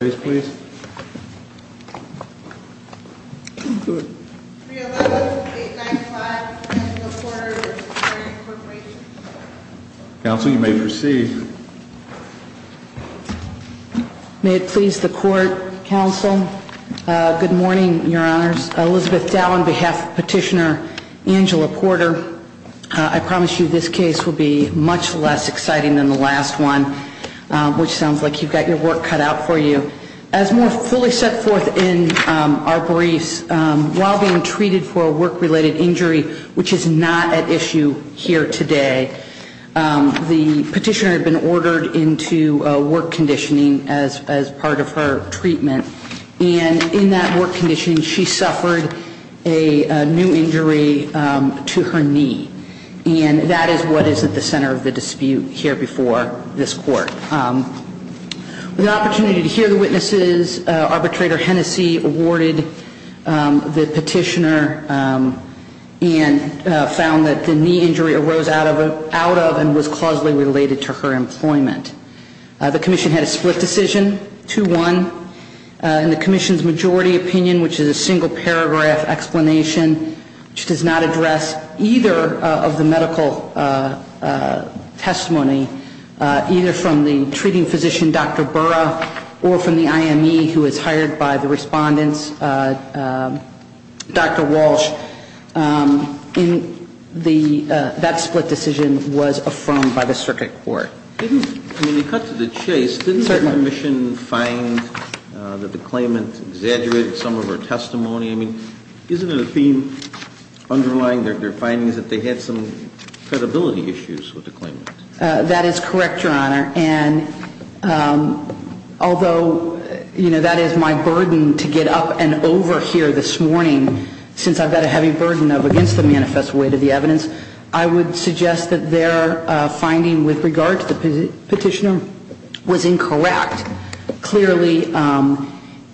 May it please the Court, Counsel. Good morning, your honors. Elizabeth Dow on behalf of Petitioner Angela Porter, I promise you this case will be much less exciting than the last one, which sounds like you've got your work cut out for you. As more fully set forth in our briefs, while being treated for a work-related injury, which is not at issue here today, the petitioner had been ordered into work conditioning as part of her treatment. And in that work conditioning, she suffered a new injury to her knee. And that is what is at the center of the dispute here before this Court. With the opportunity to hear the witnesses, Arbitrator Hennessey awarded the petitioner and found that the knee injury arose out of and was causally related to her employment. The commission had a split decision, 2-1. And the commission's majority opinion, which is a single paragraph explanation, which does not address either of the medical testimony, either from the treating physician, Dr. Didn't the commission find that the claimant exaggerated some of her testimony? I mean, isn't it a theme underlying their findings that they had some credibility issues with the claimant? That is correct, Your Honor. And although, you know, that is my burden to get up and over here this morning, since I've got a heavy burden of against the manifest weight of the evidence, I would suggest that their finding with regard to the petitioner was incorrect. Clearly,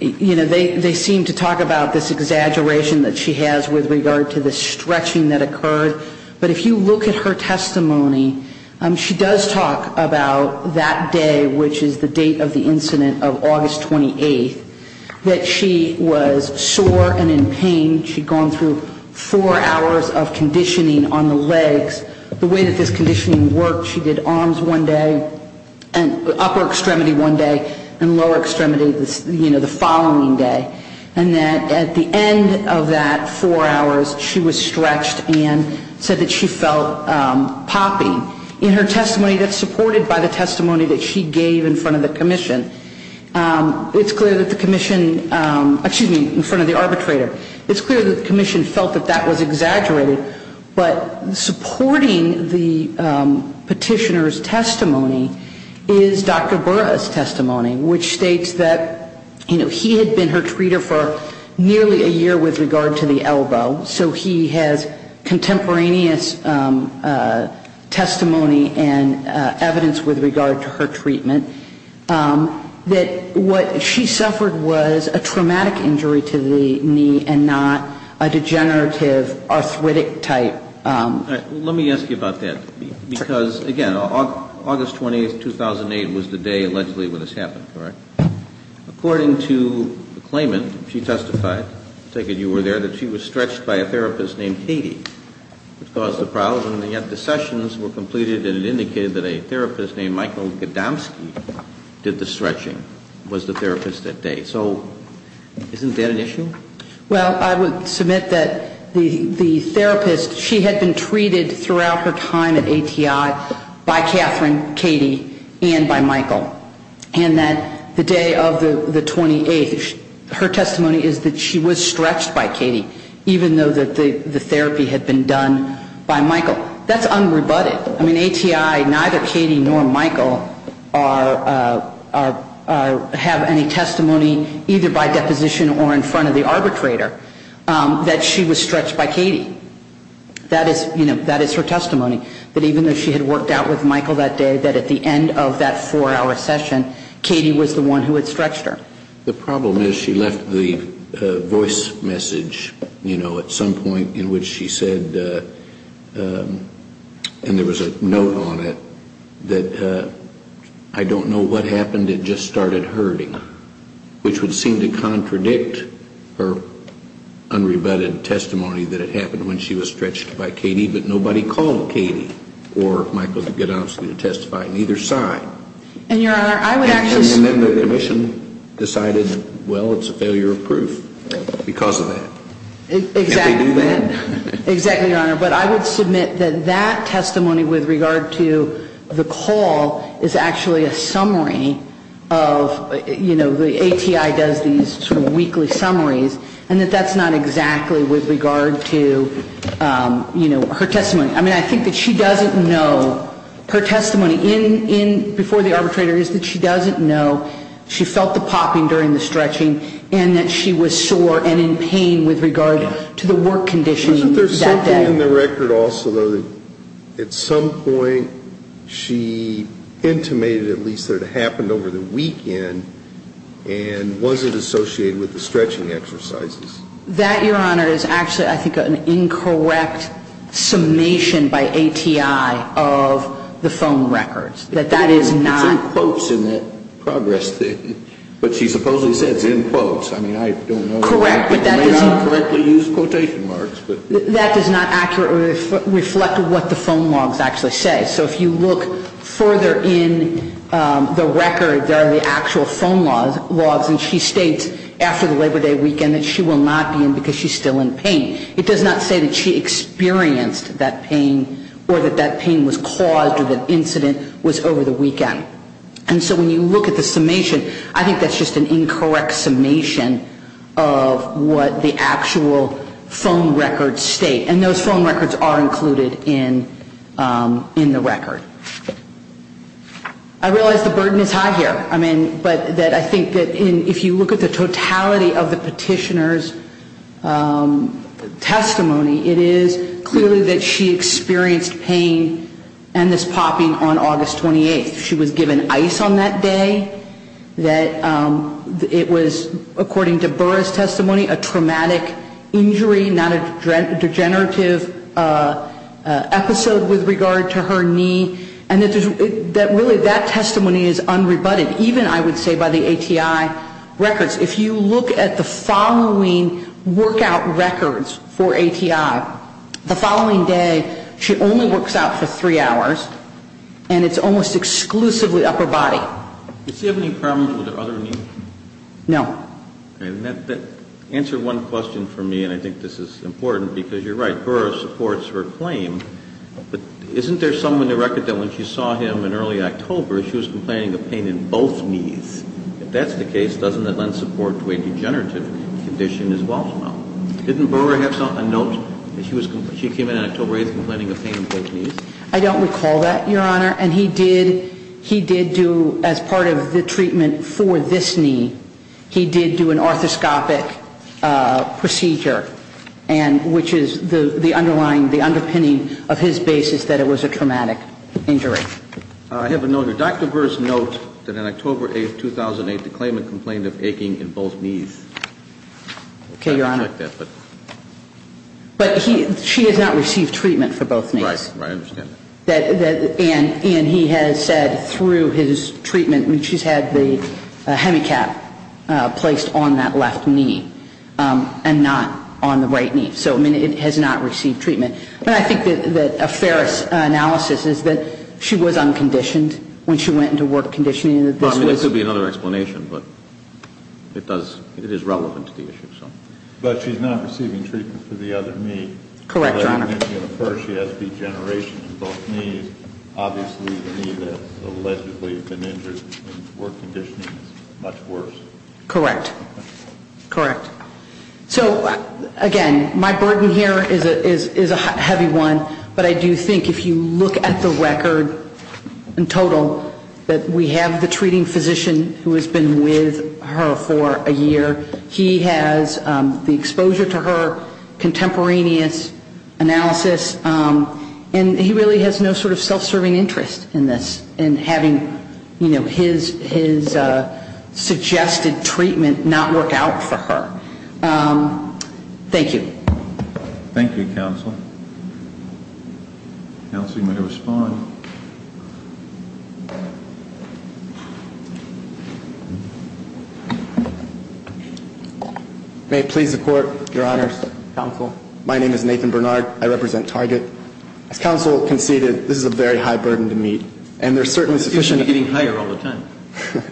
you know, they seem to talk about this exaggeration that she has with regard to the stretching that occurred. But if you look at her testimony, she does talk about that day, which is the date of the incident of August 28th, that she was sore and in pain. She'd gone through four hours of conditioning on the legs. The way that this conditioning worked, she did arms one day and upper extremity one day and lower extremity, you know, the following day. And that at the end of that four hours, she was stretched and said that she felt popping. In her testimony that's supported by the testimony that she gave in front of the commission, it's clear that the commission, excuse me, in front of the arbitrator, it's clear that the commission felt that that was exaggerated. But supporting the petitioner's testimony is Dr. Burra's testimony, which states that, you know, he had been her treater for nearly a year with regard to the elbow. So he has contemporaneous testimony and evidence with regard to her treatment that what she suffered was a traumatic injury to the knee and not a degenerative arthritic type. Let me ask you about that. Because, again, August 20th, 2008 was the day allegedly when this happened, correct? According to the claimant, she testified, I take it you were there, that she was stretched by a therapist named Katie, which caused the problem. And yet the sessions were completed and it indicated that a therapist named Michael Gadomski did the stretching, was the therapist that day. So isn't that an issue? Well, I would submit that the therapist, she had been treated throughout her time at ATI by Katherine, Katie, and by Michael. And that the day of the 28th, her testimony is that she was stretched by Katie, even though the therapy had been done by Michael. That's unrebutted. I mean, ATI, neither Katie nor Michael have any testimony either by deposition or in front of the arbitrator that she was stretched by Katie. That is, you know, that is her testimony, that even though she had worked out with Michael that day, that at the end of that four-hour session, Katie was the one who had stretched her. The problem is she left the voice message, you know, at some point in which she said, and there was a note on it, that I don't know what happened, it just started hurting, which would seem to contradict her unrebutted testimony that it happened when she was stretched by Katie, but nobody called Katie or Michael Gadomski to testify on either side. And then the commission decided, well, it's a failure of proof because of that. Exactly, Your Honor. But I would submit that that testimony with regard to the call is actually a summary of, you know, the ATI does these sort of weekly summaries, and that that's not exactly with regard to, you know, her testimony. I mean, I think that she doesn't know, her testimony before the arbitrator is that she doesn't know she felt the popping during the stretching and that she was sore and in pain with regard to the work condition that day. Isn't there something in the record also, though, that at some point she intimated at least that it happened over the weekend and wasn't associated with the stretching exercises? That, Your Honor, is actually, I think, an incorrect summation by ATI of the phone records, that that is not. It's in quotes in that progress statement, but she supposedly said it's in quotes. I mean, I don't know. Correct, but that does not. It may not correctly use quotation marks, but. That does not accurately reflect what the phone logs actually say. So if you look further in the record, there are the actual phone logs, and she states after the Labor Day weekend that she will not be in because she's still in pain. It does not say that she experienced that pain or that that pain was caused or that incident was over the weekend. And so when you look at the summation, I think that's just an incorrect summation of what the actual phone records state. And those phone records are included in the record. I realize the burden is high here. I mean, but that I think that if you look at the totality of the petitioner's testimony, it is clearly that she experienced pain and this popping on August 28th. She was given ice on that day, that it was, according to Burra's testimony, a traumatic injury, not a degenerative episode with regard to her knee, and that really that testimony is unrebutted, even, I would say, by the ATI records. If you look at the following workout records for ATI, the following day she only works out for three hours, and it's almost exclusively upper body. Does she have any problems with her other knee? No. Answer one question for me, and I think this is important, because you're right. I don't recall that, Your Honor. And he did, he did do, as part of the treatment for this knee, he did do an arthroscopic procedure, and which is the very same procedure that he did for the other knee. I'm not aware of the underlying, the underpinning of his basis that it was a traumatic injury. I have a note here. Dr. Burra's note that on October 8th, 2008, the claimant complained of aching in both knees. Okay, Your Honor. I don't know if you checked that, but. But he, she has not received treatment for both knees. Right, right. I understand that. And he has said through his treatment, I mean, she's had the hemicap placed on that left knee, and not on the right knee. So, I mean, it has not received treatment. But I think that a fair analysis is that she was unconditioned when she went into work conditioning, and that this was. I mean, there could be another explanation, but it does, it is relevant to the issue, so. But she's not receiving treatment for the other knee. Correct, Your Honor. She has degeneration in both knees. Obviously, the knee that's allegedly been injured in work conditioning is much worse. Correct. Correct. So, again, my burden here is a heavy one. But I do think if you look at the record in total, that we have the treating physician who has been with her for a year. He has the exposure to her, contemporaneous analysis. And he really has no sort of self-serving interest in this, in having, you know, his suggested treatment not work out for her. Thank you. Thank you, counsel. Counsel, you may respond. May it please the Court, Your Honor. Counsel. My name is Nathan Bernard. I represent Target. As counsel conceded, this is a very high burden to meet. And there's certainly sufficient. It seems to be getting higher all the time.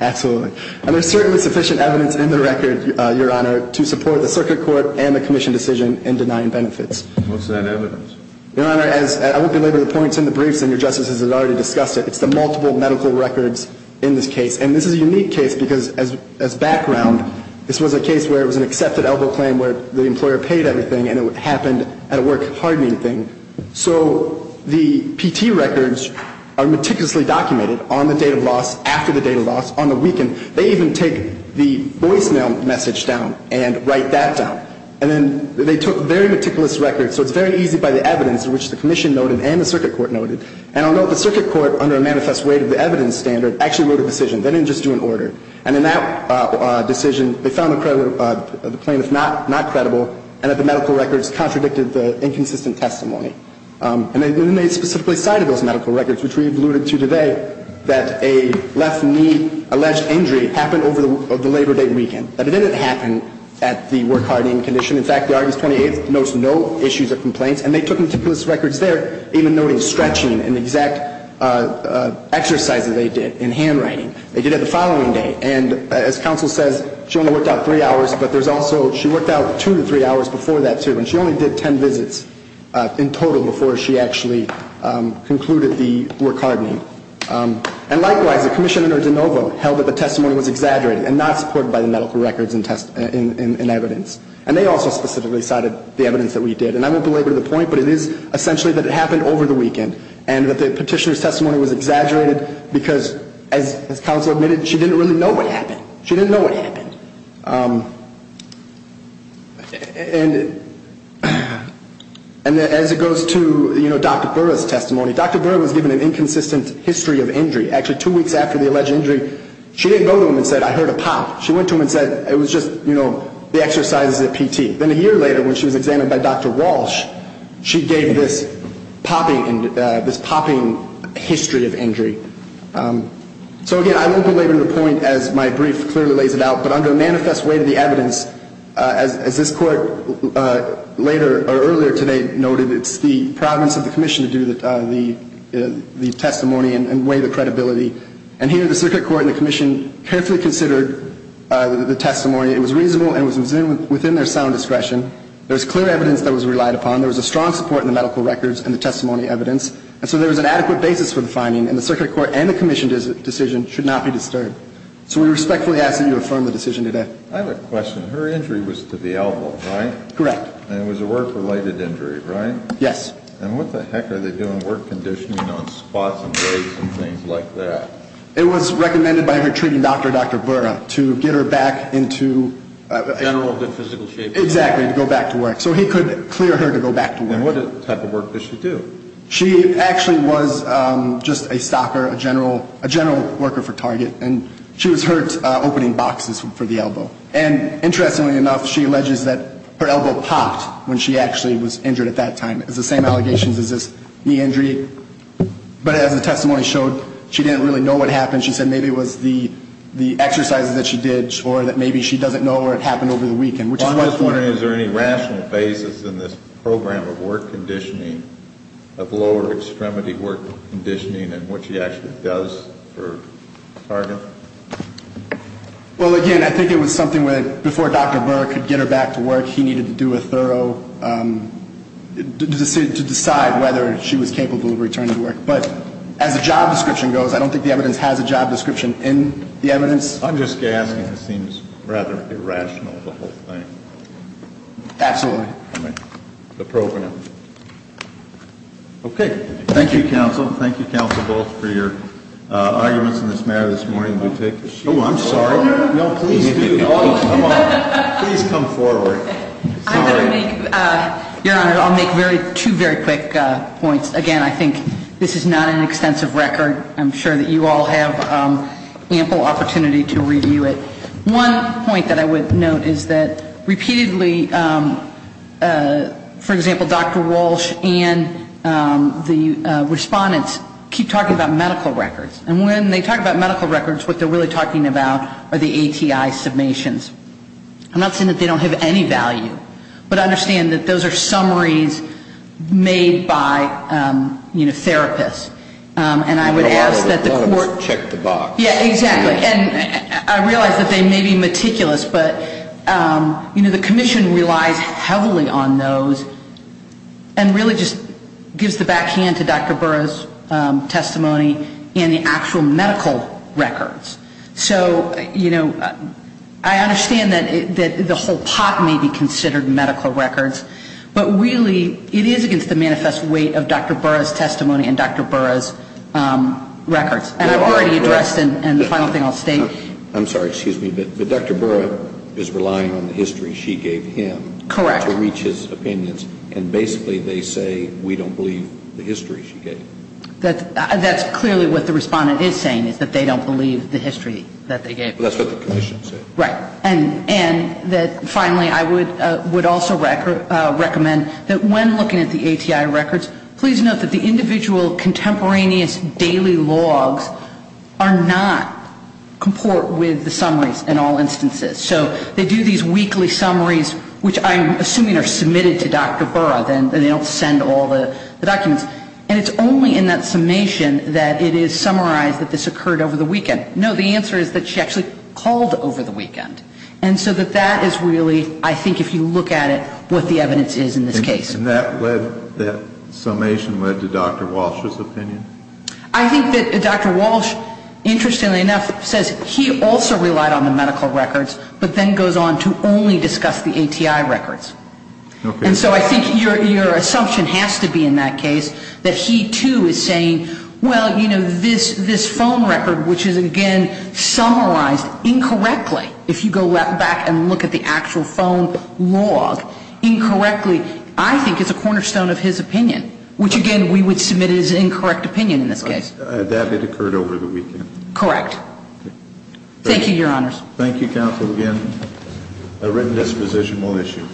Absolutely. And there's certainly sufficient evidence in the record, Your Honor, to support the circuit court and the commission decision in denying benefits. What's that evidence? Your Honor, I won't belabor the points in the briefs. And Your Justice has already discussed it. It's the multiple medical records in this case. And this is a unique case because as background, this was a case where it was an accepted elbow claim where the employer paid everything. And it happened at a work hardening thing. So the PT records are meticulously documented on the date of loss, after the date of loss, on the weekend. They even take the voicemail message down and write that down. And then they took very meticulous records. So it's very easy by the evidence, which the commission noted and the circuit court noted. And I'll note the circuit court, under a manifest weight of the evidence standard, actually wrote a decision. They didn't just do an order. And in that decision, they found the claim not credible and that the medical records contradicted the inconsistent testimony. And they specifically cited those medical records, which we alluded to today, that a left knee alleged injury happened over the Labor Day weekend. But it didn't happen at the work hardening condition. In fact, the Argus 28th notes no issues or complaints. And they took meticulous records there, even noting stretching and the exact exercises they did in handwriting. They did it the following day. And as counsel says, she only worked out three hours. But there's also she worked out two to three hours before that, too. And she only did ten visits in total before she actually concluded the work hardening. And likewise, the commissioner, DeNovo, held that the testimony was exaggerated and not supported by the medical records in evidence. And they also specifically cited the evidence that we did. And I won't belabor the point, but it is essentially that it happened over the weekend and that the petitioner's testimony was exaggerated because, as counsel admitted, she didn't really know what happened. She didn't know what happened. And as it goes to, you know, Dr. Burra's testimony, Dr. Burra was given an inconsistent history of injury. Actually, two weeks after the alleged injury, she didn't go to him and say, I heard a pop. She went to him and said, it was just, you know, the exercises at PT. Then a year later, when she was examined by Dr. Walsh, she gave this popping history of injury. So, again, I won't belabor the point as my brief clearly lays it out. But under a manifest way to the evidence, as this court later or earlier today noted, it's the province of the commission to do the testimony and weigh the credibility. And here, the circuit court and the commission carefully considered the testimony. It was reasonable and it was within their sound discretion. There was clear evidence that was relied upon. There was a strong support in the medical records and the testimony evidence. And so there was an adequate basis for the finding. And the circuit court and the commission decision should not be disturbed. So we respectfully ask that you affirm the decision today. I have a question. Her injury was to the elbow, right? Correct. And it was a work-related injury, right? Yes. And what the heck are they doing? Work conditioning on spots and breaks and things like that. It was recommended by her treating doctor, Dr. Burra, to get her back into the general good physical shape. Exactly. To go back to work. So he could clear her to go back to work. And what type of work does she do? She actually was just a stocker, a general worker for Target. And she was hurt opening boxes for the elbow. And interestingly enough, she alleges that her elbow popped when she actually was injured at that time. It's the same allegations as this knee injury. But as the testimony showed, she didn't really know what happened. She said maybe it was the exercises that she did or that maybe she doesn't know or it happened over the weekend. Well, I'm just wondering, is there any rational basis in this program of work conditioning, of lower extremity work conditioning and what she actually does for Target? Well, again, I think it was something where before Dr. Burra could get her back to work, he needed to do a thorough, to decide whether she was capable of returning to work. But as a job description goes, I don't think the evidence has a job description in the evidence. I'm just guessing it seems rather irrational, the whole thing. Absolutely. The program. Okay. Thank you, counsel. Thank you, counsel, both, for your arguments in this matter this morning. Oh, I'm sorry. No, please do. Please come forward. Your Honor, I'll make two very quick points. Again, I think this is not an extensive record. I'm sure that you all have ample opportunity to review it. One point that I would note is that repeatedly, for example, Dr. Walsh and the respondents keep talking about medical records. And when they talk about medical records, what they're really talking about are the ATI summations. I'm not saying that they don't have any value, but I understand that those are summaries made by, you know, therapists. And I would ask that the court check the box. Yeah, exactly. And I realize that they may be meticulous, but, you know, the commission relies heavily on those and really just gives the backhand to Dr. Burra's testimony and the actual medical records. So, you know, I understand that the whole pot may be considered medical records, but really it is against the manifest weight of Dr. Burra's testimony and Dr. Burra's records. And I've already addressed and the final thing I'll state. I'm sorry. Excuse me. But Dr. Burra is relying on the history she gave him to reach his opinions. Correct. And basically they say we don't believe the history she gave. That's clearly what the respondent is saying is that they don't believe the history that they gave. That's what the commission said. Right. And that finally I would also recommend that when looking at the ATI records, please note that the individual contemporaneous daily logs are not comport with the summaries in all instances. So they do these weekly summaries, which I'm assuming are submitted to Dr. Burra. They don't send all the documents. And it's only in that summation that it is summarized that this occurred over the weekend. No, the answer is that she actually called over the weekend. And so that that is really, I think if you look at it, what the evidence is in this case. And that led, that summation led to Dr. Walsh's opinion? I think that Dr. Walsh, interestingly enough, says he also relied on the medical records, but then goes on to only discuss the ATI records. Okay. And so I think your assumption has to be in that case that he, too, is saying, well, you know, this phone record, which is, again, summarized incorrectly. If you go back and look at the actual phone log incorrectly, I think it's a cornerstone of his opinion, which, again, we would submit as incorrect opinion in this case. That it occurred over the weekend. Correct. Thank you, Your Honors. Thank you, Counsel. Again, a written disposition will issue.